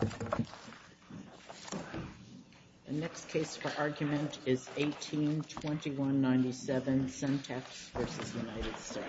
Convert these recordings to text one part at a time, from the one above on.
The next case for argument is 18-2197, Centech v. United States.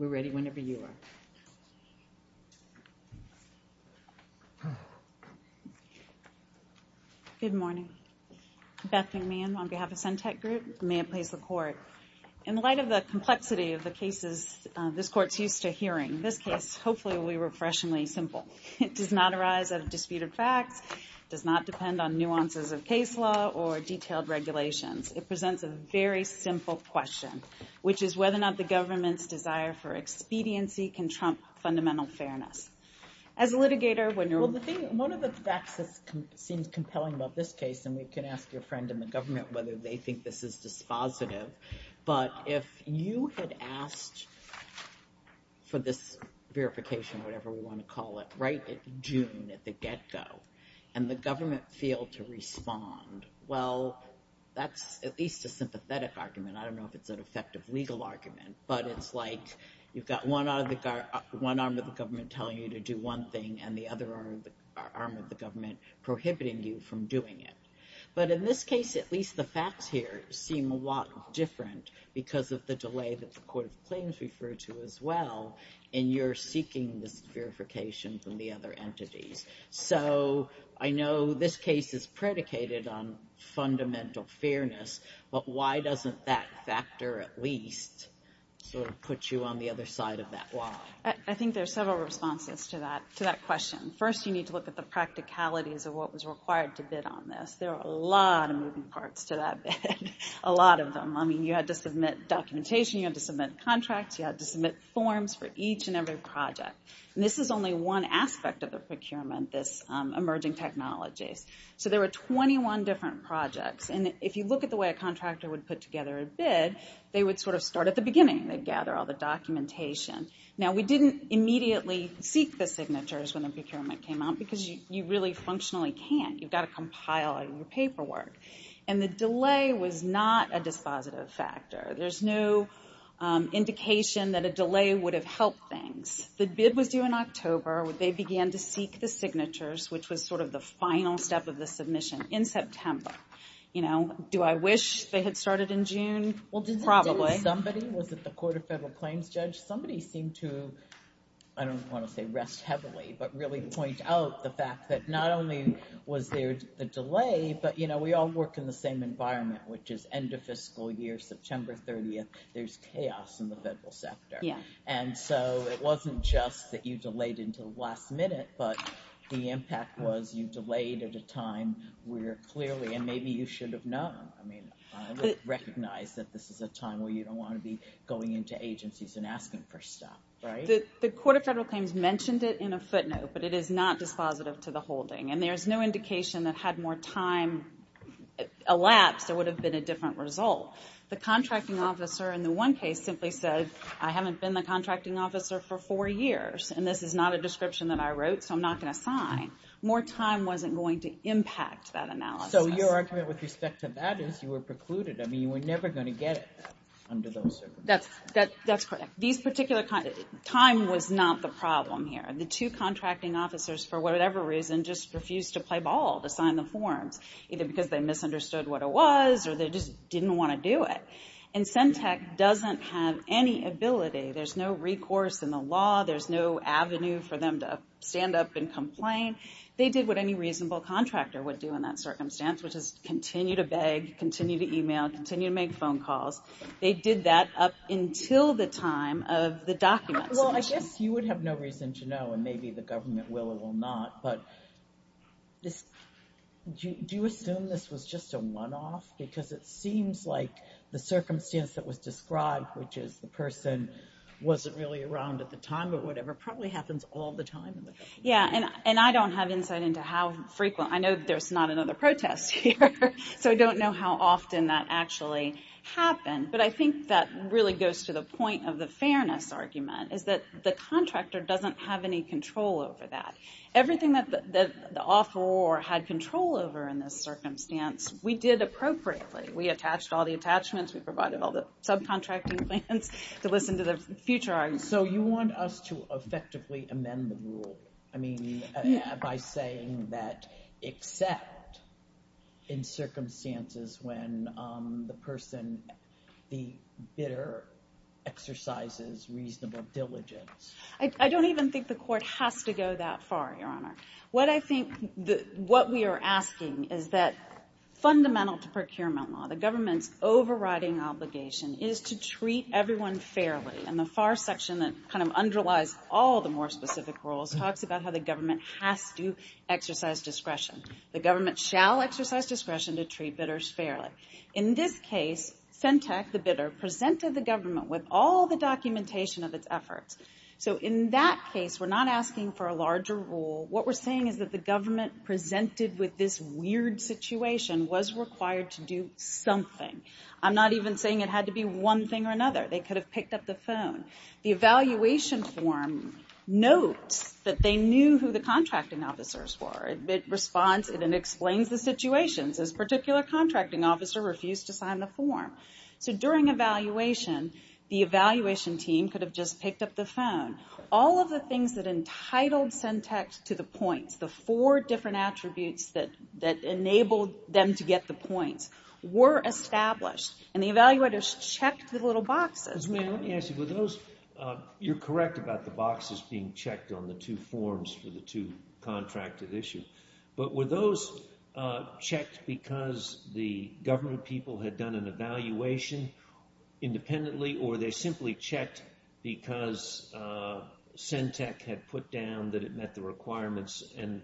We're ready whenever you are. Good morning. Beth McMahon on behalf of Centech Group. May it please the Court. In light of the complexity of the cases this Court is used to hearing, this case hopefully will be refreshingly simple. It does not arise out of disputed facts, does not depend on nuances of case law or detailed regulations. It presents a very simple question, which is whether or not the government's desire for expediency can trump fundamental fairness. As a litigator, when you're – Well, the thing – one of the facts that seems compelling about this case – and we can ask your friend in the government whether they think this is dispositive – but if you had asked for this verification, whatever we want to call it, right in June at the get-go, and the government failed to respond, well, that's at least a sympathetic argument. I don't know if it's an effective legal argument, but it's like you've got one arm of the government telling you to do one thing and the other arm of the government prohibiting you from doing it. But in this case, at least the facts here seem a lot different because of the delay that the Court of Claims referred to as well in your seeking this verification from the other entities. So I know this case is predicated on fundamental fairness, but why doesn't that factor at least sort of put you on the other side of that wall? I think there are several responses to that question. First you need to look at the practicalities of what was required to bid on this. There are a lot of moving parts to that bid, a lot of them. I mean, you had to submit documentation, you had to submit contracts, you had to submit forms for each and every project. This is only one aspect of the procurement, this emerging technologies. So there were 21 different projects. And if you look at the way a contractor would put together a bid, they would sort of start at the beginning. They'd gather all the documentation. Now we didn't immediately seek the signatures when the procurement came out because you really functionally can't. You've got to compile all your paperwork. And the delay was not a dispositive factor. There's no indication that a delay would have helped things. The bid was due in October. They began to seek the signatures, which was sort of the final step of the submission, in September. You know, do I wish they had started in June? Probably. Well, did somebody, was it the Court of Federal Claims judge? Somebody seemed to, I don't want to say rest heavily, but really point out the fact that not only was there a delay, but you know, we all work in the same environment, which is end of fiscal year, September 30th, there's chaos in the federal sector. And so it wasn't just that you delayed until the last minute, but the impact was you delayed at a time where clearly, and maybe you should have known, I mean, I would recognize that this is a time where you don't want to be going into agencies and asking for stuff, right? The Court of Federal Claims mentioned it in a footnote, but it is not dispositive to the holding. And there's no indication that had more time elapsed, there would have been a different result. The contracting officer in the one case simply said, I haven't been the contracting officer for four years, and this is not a description that I wrote, so I'm not going to sign. More time wasn't going to impact that analysis. So your argument with respect to that is you were precluded, I mean, you were never going to get it under those circumstances. That's correct. These particular, time was not the problem here. The two contracting officers, for whatever reason, just refused to play ball, to sign the forms. Either because they misunderstood what it was, or they just didn't want to do it. And Centech doesn't have any ability, there's no recourse in the law, there's no avenue for them to stand up and complain. They did what any reasonable contractor would do in that circumstance, which is continue to beg, continue to email, continue to make phone calls. They did that up until the time of the documents. Well, I guess you would have no reason to know, and maybe the government will or will not, but this, do you assume this was just a one-off? Because it seems like the circumstance that was described, which is the person wasn't really around at the time or whatever, probably happens all the time in the case. Yeah, and I don't have insight into how frequent, I know that there's not another protest here, so I don't know how often that actually happened. But I think that really goes to the point of the fairness argument, is that the contractor doesn't have any control over that. Everything that the offeror had control over in this circumstance, we did appropriately. We attached all the attachments, we provided all the subcontracting plans to listen to the future argument. So you want us to effectively amend the rule, I mean, by saying that except in circumstances when the person, the bidder, exercises reasonable diligence. I don't even think the court has to go that far, Your Honor. What I think, what we are asking is that fundamental to procurement law, the government's overriding obligation is to treat everyone fairly, and the far section that kind of underlies all the more specific rules talks about how the government has to exercise discretion. The government shall exercise discretion to treat bidders fairly. In this case, Fentech, the bidder, presented the government with all the documentation of its efforts. So in that case, we're not asking for a larger rule. What we're saying is that the government presented with this weird situation, was required to do something. I'm not even saying it had to be one thing or another. They could have picked up the phone. The evaluation form notes that they knew who the contracting officers were. It responds and it explains the situations. This particular contracting officer refused to sign the form. So during evaluation, the evaluation team could have just picked up the phone. All of the things that entitled Fentech to the points, the four different attributes that enabled them to get the points, were established. And the evaluators checked the little boxes. Let me ask you, were those, you're correct about the boxes being checked on the two forms for the two contracted issues. But were those checked because the government people had done an evaluation independently or they simply checked because Fentech had put down that it met the requirements and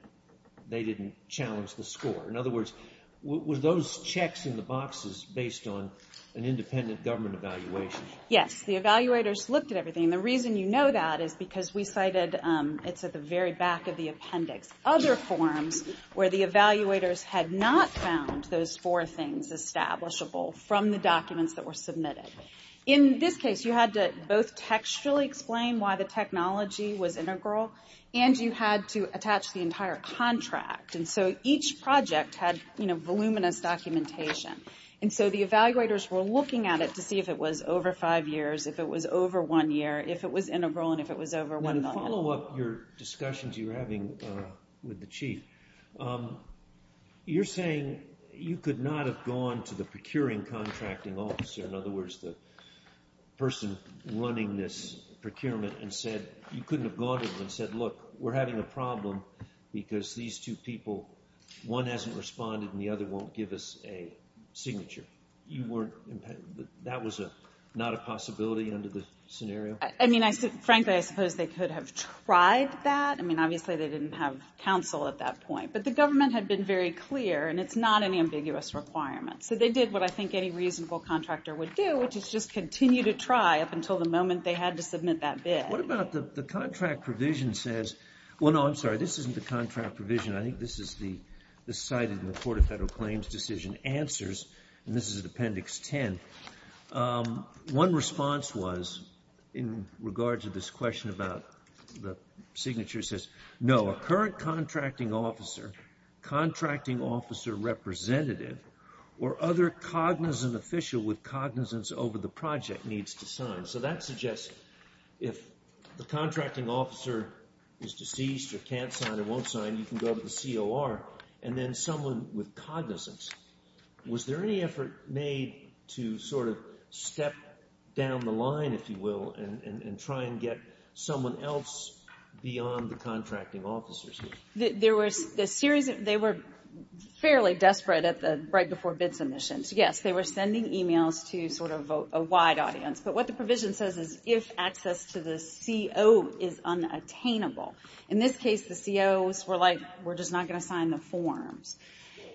they didn't challenge the score? In other words, were those checks in the boxes based on an independent government evaluation? Yes, the evaluators looked at everything. The reason you know that is because we cited, it's at the very back of the appendix. Other forms where the evaluators had not found those four things establishable from the documents that were submitted. In this case, you had to both textually explain why the technology was integral and you had to attach the entire contract. And so each project had voluminous documentation. And so the evaluators were looking at it to see if it was over five years, if it was over one year, if it was integral, and if it was over one million. To follow up your discussions you were having with the chief, you're saying you could not have gone to the procuring contracting officer, in other words, the person running this procurement and said, you couldn't have gone to them and said, look, we're having a problem because these two people, one hasn't responded and the other won't give us a signature. You weren't, that was not a possibility under the scenario? I mean, frankly, I suppose they could have tried that. I mean, obviously, they didn't have counsel at that point. But the government had been very clear, and it's not an ambiguous requirement. So they did what I think any reasonable contractor would do, which is just continue to try up until the moment they had to submit that bid. What about the contract provision says, well, no, I'm sorry, this isn't the contract provision. I think this is the cited in the Court of Federal Claims decision answers, and this is at Appendix 10. One response was, in regard to this question about the signature says, no, a current contracting officer, contracting officer representative, or other cognizant official with cognizance over the project needs to sign. So that suggests if the contracting officer is deceased or can't sign or won't sign, you can go to the COR and then someone with cognizance. Was there any effort made to sort of step down the line, if you will, and try and get someone else beyond the contracting officers? There was a series of, they were fairly desperate at the right before bid submissions. Yes, they were sending emails to sort of a wide audience. But what the provision says is if access to the CO is unattainable. In this case, the COs were like, we're just not going to sign the forms.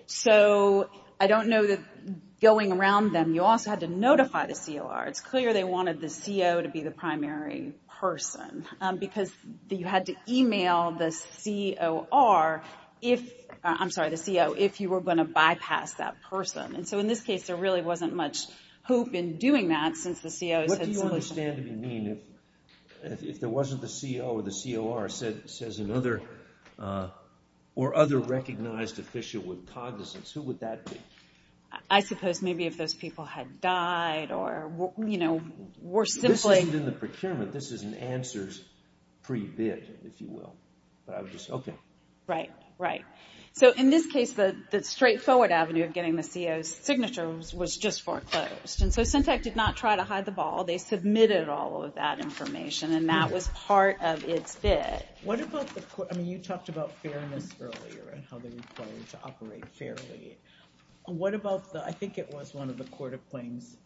So I don't know that going around them, you also had to notify the COR. It's clear they wanted the CO to be the primary person, because you had to email the COR if, I'm sorry, the CO, if you were going to bypass that person. And so in this case, there really wasn't much hope in doing that since the COs had submission. What do you understand to mean if there wasn't the CO or the COR says another, or other recognized official with cognizance, who would that be? I suppose maybe if those people had died or, you know, were simply. This isn't in the procurement. This is an answers pre-bid, if you will, but I would just, okay. Right, right. So in this case, the straightforward avenue of getting the COs signature was just foreclosed. And so SYNTEC did not try to hide the ball. They submitted all of that information and that was part of its bid. What about the, I mean, you talked about fairness earlier and how they required to operate fairly. What about the, I think it was one of the court of claims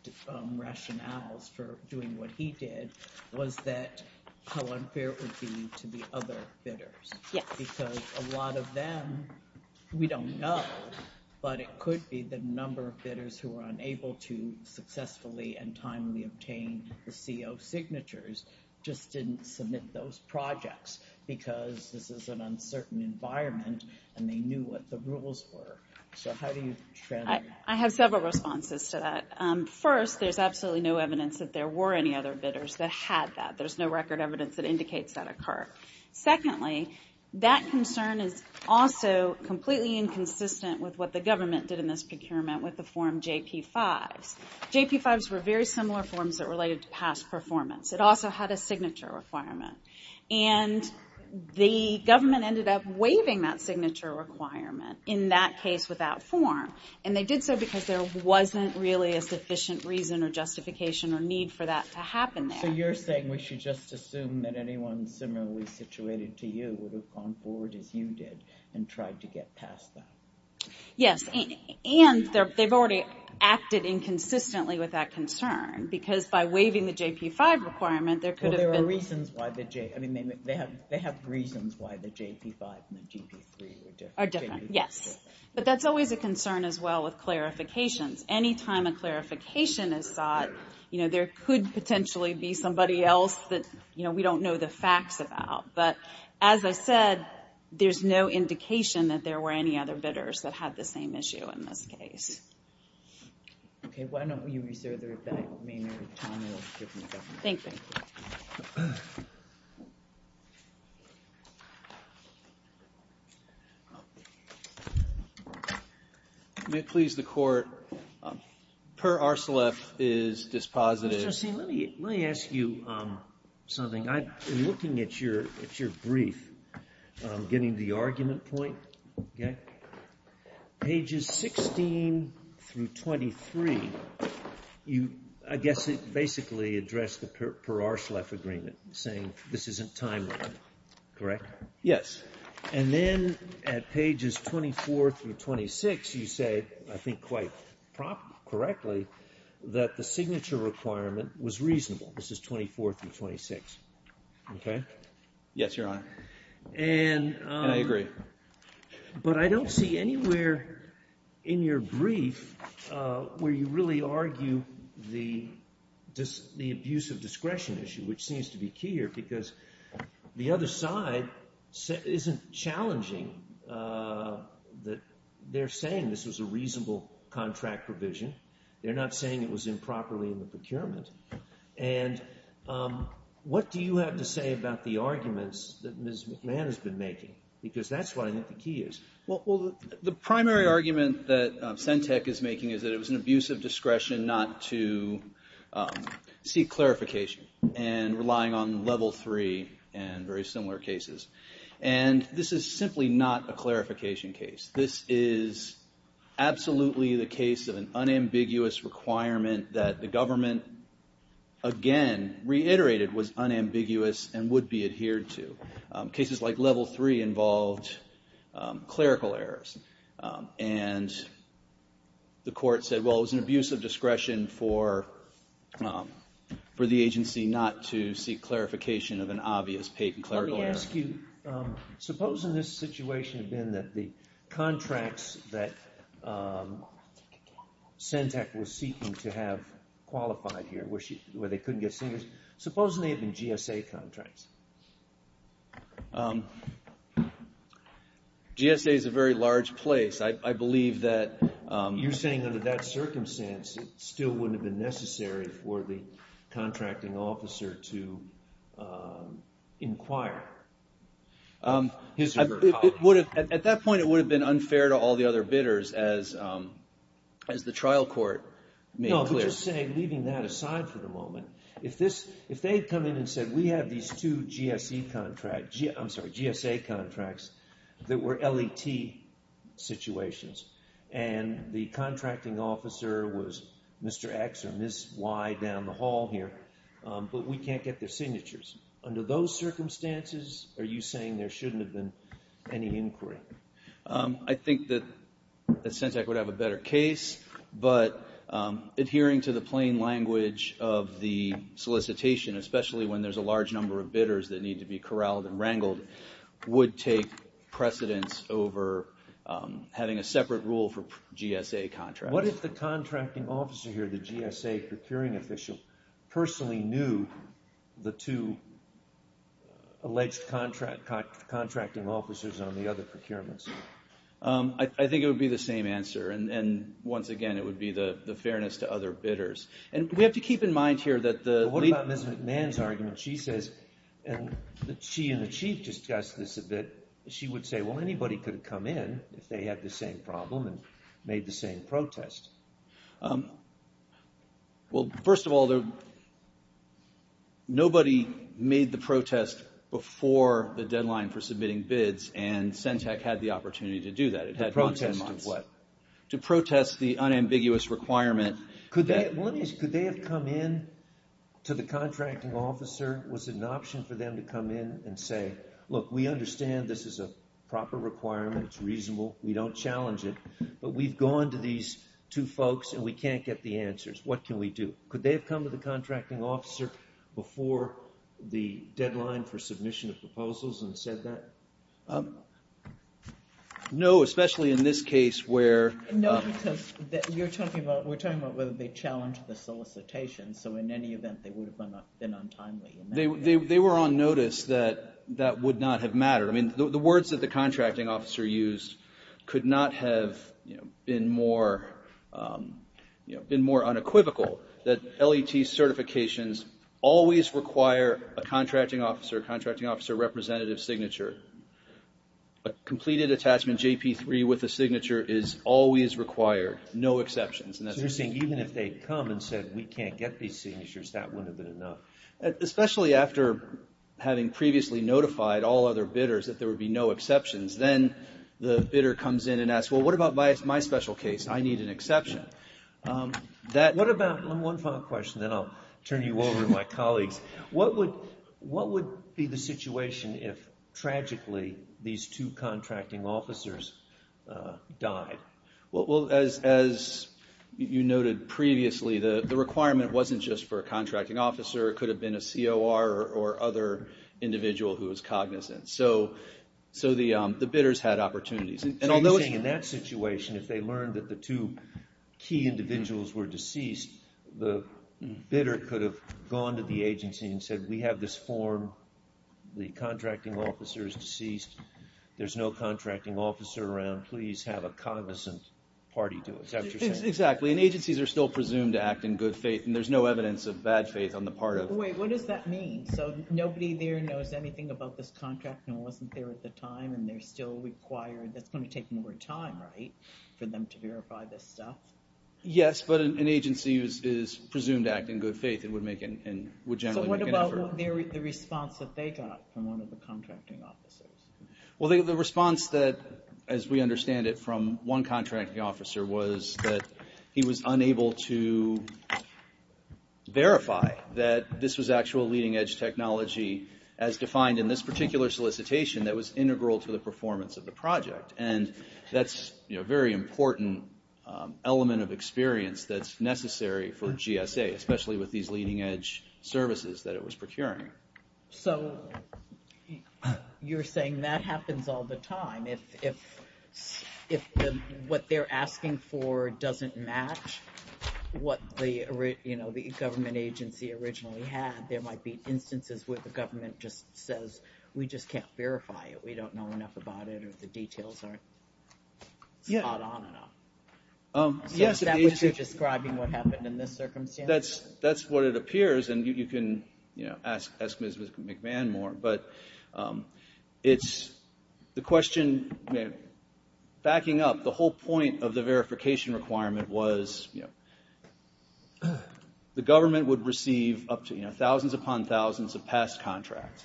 rationales for doing what he did, was that how unfair it would be to the other bidders. Yes. Because a lot of them, we don't know, but it could be the number of bidders who were unable to successfully and timely obtain the CO signatures, just didn't submit those projects because this is an uncertain environment and they knew what the rules were. So how do you? I have several responses to that. First, there's absolutely no evidence that there were any other bidders that had that. There's no record evidence that indicates that occurred. Secondly, that concern is also completely inconsistent with what the government did in this procurement with the form JP-5s. JP-5s were very similar forms that related to past performance. It also had a signature requirement. And the government ended up waiving that signature requirement in that case without form. And they did so because there wasn't really a sufficient reason or justification or need for that to happen there. So you're saying we should just assume that anyone similarly situated to you would have gone forward as you did and tried to get past that? Yes. And they've already acted inconsistently with that concern because by waiving the JP-5 requirement, there could have been... Well, there are reasons why the JP... I mean, they have reasons why the JP-5 and the JP-3 are different. Are different, yes. But that's always a concern as well with clarifications. Anytime a clarification is sought, you know, there could potentially be somebody else that, you know, we don't know the facts about. But as I said, there's no indication that there were any other bidders that had the same issue in this case. Okay. Why don't you reserve the remainder of your time and we'll get to the government. Thank you. May it please the Court, Per Arcelef is dispositive. Mr. Hussain, let me ask you something. In looking at your brief, I'm getting to the argument point, okay? Pages 16 through 23, I guess it basically addressed the Per Arcelef agreement saying this isn't timely, correct? Yes. And then at pages 24 through 26, you say, I think quite correctly, that the signature requirement was reasonable. This is 24 through 26, okay? Yes, Your Honor. And I agree. But I don't see anywhere in your brief where you really argue the abuse of discretion issue, which seems to be key here because the other side isn't challenging. They're saying this was a reasonable contract provision. They're not saying it was improperly in the procurement. And what do you have to say about the arguments that Ms. McMahon has been making? Because that's what I think the key is. Well, the primary argument that Sentech is making is that it was an abuse of discretion not to seek clarification and relying on level three and very similar cases. And this is simply not a clarification case. This is absolutely the case of an unambiguous requirement that the government, again, reiterated was unambiguous and would be adhered to. Cases like level three involved clerical errors. And the court said, well, it was an abuse of discretion for the agency not to seek clarification of an obvious clerical error. Let me ask you, suppose in this situation, Ben, the contracts that Sentech was seeking to have qualified here, where they couldn't get singers, supposing they had been GSA contracts. GSA is a very large place. I believe that you're saying under that circumstance, it still wouldn't have been necessary for the contracting officer to inquire. At that point, it would have been unfair to all the other bidders as the trial court made clear. No, but just saying, leaving that aside for the moment, if they had come in and said, we have these two GSA contracts that were LET situations and the contracting officer was Mr. X or Ms. Y down the hall here, but we can't get their signatures. Under those circumstances, are you saying there shouldn't have been any inquiry? I think that Sentech would have a better case, but adhering to the plain language of the solicitation, especially when there's a large number of bidders that need to be corralled and wrangled, would take precedence over having a separate rule for GSA contracts. What if the contracting officer here, the GSA procuring official, personally knew the two alleged contracting officers on the other procurements? I think it would be the same answer. And once again, it would be the fairness to other bidders. And we have to keep in mind here that the- What about Ms. McMahon's argument? She says, and she and the chief discussed this a bit, she would say, well, anybody could have come in if they had the same problem and made the same protest. Well, first of all, nobody made the protest before the deadline for submitting bids, and Sentech had the opportunity to do that. It had gone 10 months. To protest the unambiguous requirement. Could they have come in to the contracting officer? Was it an option for them to come in and say, look, we understand this is a proper requirement, it's reasonable, we don't challenge it, but we've gone to these two folks and we can't get the answers. What can we do? Could they have come to the contracting officer before the deadline for submission of proposals and said that? No, especially in this case where- No, because you're talking about, we're talking about whether they challenged the solicitation. So, in any event, they would have been untimely. They were on notice that that would not have mattered. I mean, the words that the contracting officer used could not have been more unequivocal that LET certifications always require a contracting officer, a contracting officer representative signature. A completed attachment JP3 with a signature is always required, no exceptions. So, you're saying even if they'd come and said we can't get these signatures, that wouldn't have been enough? Especially after having previously notified all other bidders that there would be no exceptions. Then, the bidder comes in and asks, well, what about my special case? I need an exception. What about, one final question, then I'll turn you over to my colleagues. What would be the situation if, tragically, these two contracting officers died? Well, as you noted previously, the requirement wasn't just for a contracting officer. It could have been a COR or other individual who was cognizant. So, the bidders had opportunities. And although, in that situation, if they learned that the two key individuals were deceased, the bidder could have gone to the agency and said we have this form. The contracting officer is deceased. There's no contracting officer around. Please have a cognizant party do it. Is that what you're saying? Exactly, and agencies are still presumed to act in good faith, and there's no evidence of bad faith on the part of. Wait, what does that mean? So, nobody there knows anything about this contract and wasn't there at the time, and they're still required. That's gonna take more time, right, for them to verify this stuff? Yes, but an agency is presumed to act in good faith and would generally make an effort. So, what about the response that they got from one of the contracting officers? Well, the response that, as we understand it, from one contracting officer was that he was unable to verify that this was actual leading edge technology as defined in this particular solicitation that was integral to the performance of the project. And that's a very important element of experience that's necessary for GSA, especially with these leading edge services that it was procuring. So, you're saying that happens all the time if what they're asking for doesn't match what the government agency originally had. There might be instances where the government just says, we just can't verify it, we don't know enough about it, or the details aren't spot on enough. So, is that what you're describing what happened in this circumstance? That's what it appears, and you can ask Ms. McMahon more, but it's the question, backing up, the whole point of the verification requirement was the government would receive up to thousands upon thousands of past contracts.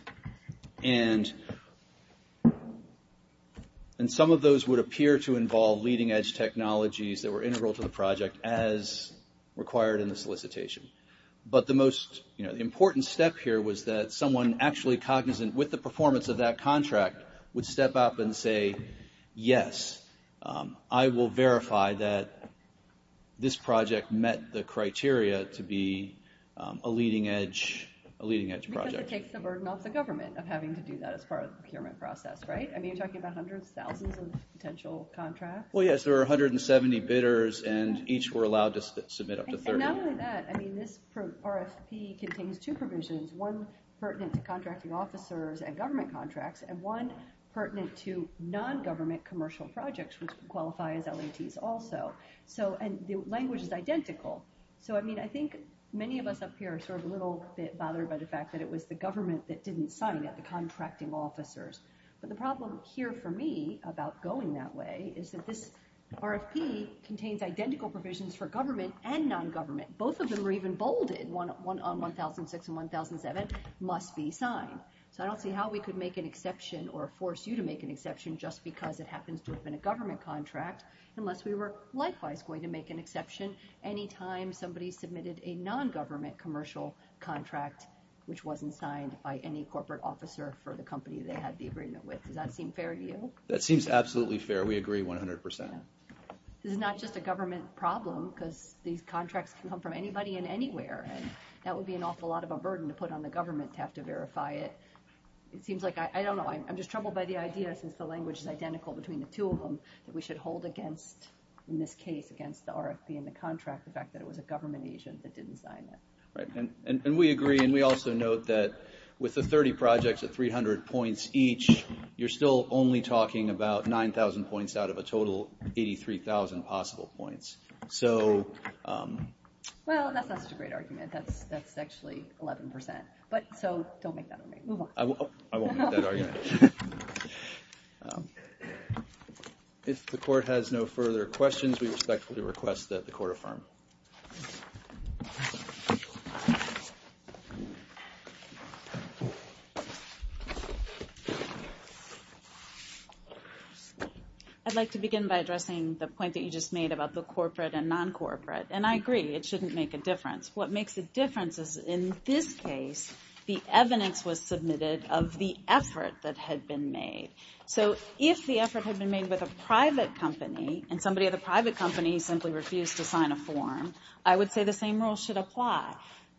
And some of those would appear to involve leading edge technologies that were integral to the project as required in the solicitation. But the most important step here was that someone actually cognizant with the performance of that contract would step up and say, yes, I will verify that this project met the criteria to be a leading edge project. Because it takes the burden off the government of having to do that as part of the procurement process, right, I mean, you're talking about hundreds, thousands of potential contracts. Well, yes, there are 170 bidders, and each were allowed to submit up to 30. And not only that, I mean, this RFP contains two provisions, one pertinent to contracting officers and government contracts, and one pertinent to non-government commercial projects, which would qualify as LATs also. So, and the language is identical. So, I mean, I think many of us up here are sort of a little bit bothered by the fact that it was the government that didn't sign it, the contracting officers. But the problem here for me about going that way is that this RFP contains identical provisions for government and non-government. Both of them are even bolded on 1006 and 1007, must be signed. So I don't see how we could make an exception or force you to make an exception just because it happens to have been a government contract, unless we were likewise going to make an exception any time somebody submitted a non-government commercial contract, which wasn't signed by any corporate officer for the company they had the agreement with. Does that seem fair to you? That seems absolutely fair. We agree 100%. This is not just a government problem, because these contracts can come from anybody and anywhere, and that would be an awful lot of a burden to put on the government to have to verify it. It seems like, I don't know, I'm just troubled by the idea since the language is identical between the two of them that we should hold against, in this case, against the RFP and the contract, the fact that it was a government agent that didn't sign it. Right. And we agree, and we also note that with the 30 projects at 300 points each, you're still only talking about 9,000 points out of a total 83,000 possible points. So... Well, that's not such a great argument. That's actually 11%. But so, don't make that argument. Move on. I won't make that argument. If the court has no further questions, we respectfully request that the court affirm. I'd like to begin by addressing the point that you just made about the corporate and non-corporate. And I agree, it shouldn't make a difference. What makes a difference is, in this case, the evidence was submitted of the effort that had been made. So, if the effort had been made with a private company, and somebody at a private company simply refused to sign a form, I would say the same rule should apply.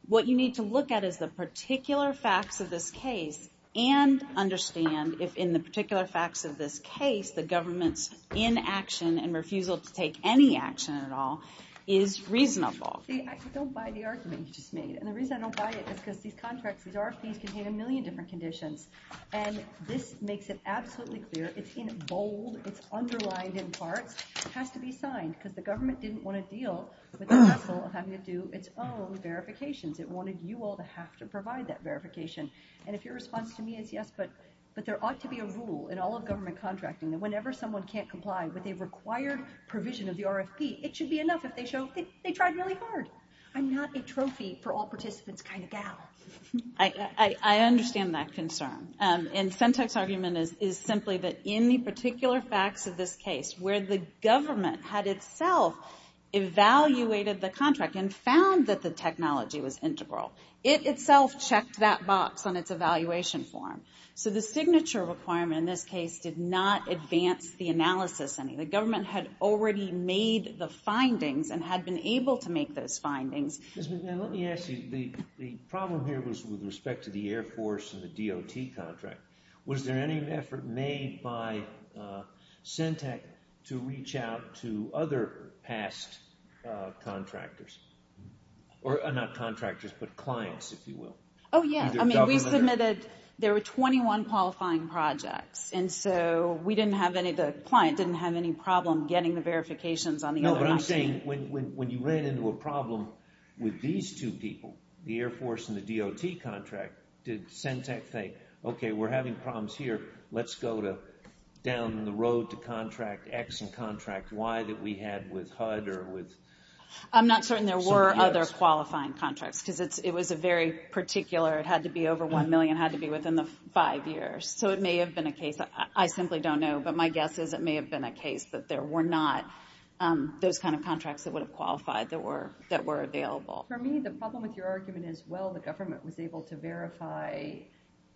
What you need to look at is the particular facts of this case and understand if, in the particular facts of this case, the government's inaction and refusal to take any action at all is reasonable. See, I don't buy the argument you just made. And the reason I don't buy it is because these RFPs contain a million different conditions. And this makes it absolutely clear. It's in bold, it's underlined in parts. It has to be signed, because the government didn't want to deal with the hassle of having to do its own verifications. It wanted you all to have to provide that verification. And if your response to me is yes, but there ought to be a rule in all of government contracting that whenever someone can't comply with a required provision of the RFP, it should be enough if they show they tried really hard. I'm not a trophy-for-all-participants kind of gal. I understand that concern. And Sentek's argument is simply that in the particular facts of this case, where the government had itself evaluated the contract and found that the technology was integral, it itself checked that box on its evaluation form. So the signature requirement in this case did not advance the analysis any. The government had already made the findings and had been able to make those findings. Ms. McMahon, let me ask you, the problem here was with respect to the Air Force and the DOT contract. Was there any effort made by Sentek to reach out to other past contractors? Or not contractors, but clients, if you will. Oh yeah, I mean, we submitted, there were 21 qualifying projects. And so we didn't have any, the client didn't have any problem getting the verifications on the other option. No, but I'm saying when you ran into a problem with these two people, the Air Force and the DOT contract, did Sentek think, okay, we're having problems here, let's go down the road to contract X and contract Y that we had with HUD or with? I'm not certain there were other qualifying contracts because it was a very particular, it had to be over one million, it had to be within the five years. So it may have been a case, I simply don't know, but my guess is it may have been a case that there were not those kind of contracts that would have qualified that were available. For me, the problem with your argument is, well, the government was able to verify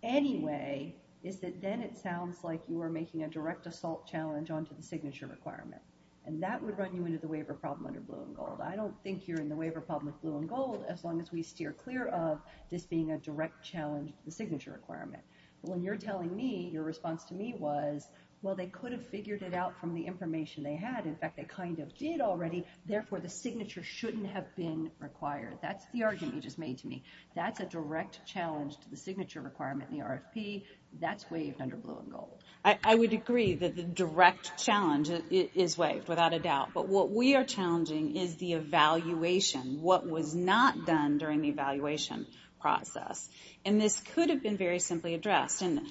anyway, is that then it sounds like you were making a direct assault challenge onto the signature requirement. And that would run you into the waiver problem under blue and gold. I don't think you're in the waiver problem with blue and gold, as long as we steer clear of this being a direct challenge to the signature requirement. When you're telling me, your response to me was, well, they could have figured it out from the information they had. In fact, they kind of did already. Therefore, the signature shouldn't have been required. That's the argument you just made to me. That's a direct challenge to the signature requirement in the RFP, that's waived under blue and gold. I would agree that the direct challenge is waived, without a doubt. But what we are challenging is the evaluation, what was not done during the evaluation process. And this could have been very simply addressed. And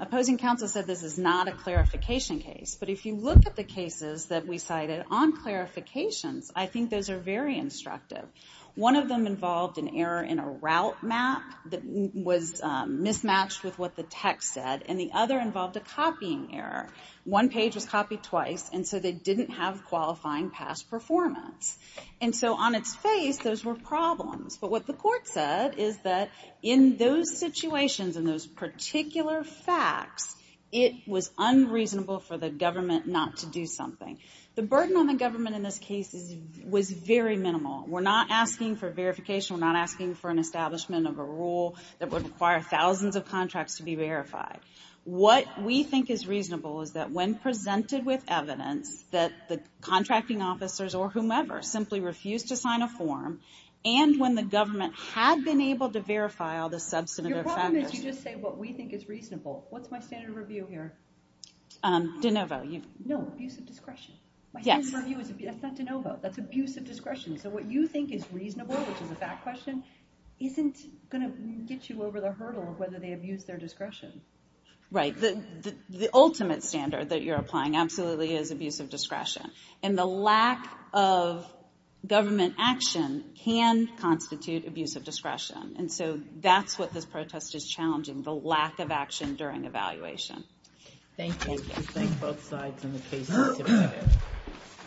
opposing counsel said this is not a clarification case. But if you look at the cases that we cited on clarifications, I think those are very instructive. One of them involved an error in a route map that was mismatched with what the text said. And the other involved a copying error. One page was copied twice, and so they didn't have qualifying past performance. And so on its face, those were problems. But what the court said is that in those situations, in those particular facts, it was unreasonable for the government not to do something. The burden on the government in this case was very minimal. We're not asking for verification, we're not asking for an establishment of a rule that would require thousands of contracts to be verified. What we think is reasonable is that when presented with evidence that the contracting officers, or whomever, simply refused to sign a form, and when the government had been able to verify all the substantive factors. Your problem is you just say what we think is reasonable. What's my standard of review here? De Novo, you. No, abuse of discretion. My standard of review is, that's not De Novo, that's abuse of discretion. So what you think is reasonable, which is a fact question, isn't gonna get you over the hurdle of whether they abuse their discretion. Right, the ultimate standard that you're applying absolutely is abuse of discretion. And the lack of government action can constitute abuse of discretion. And so that's what this protest is challenging, the lack of action during evaluation. Thank you. Thank you, thank both sides on the case.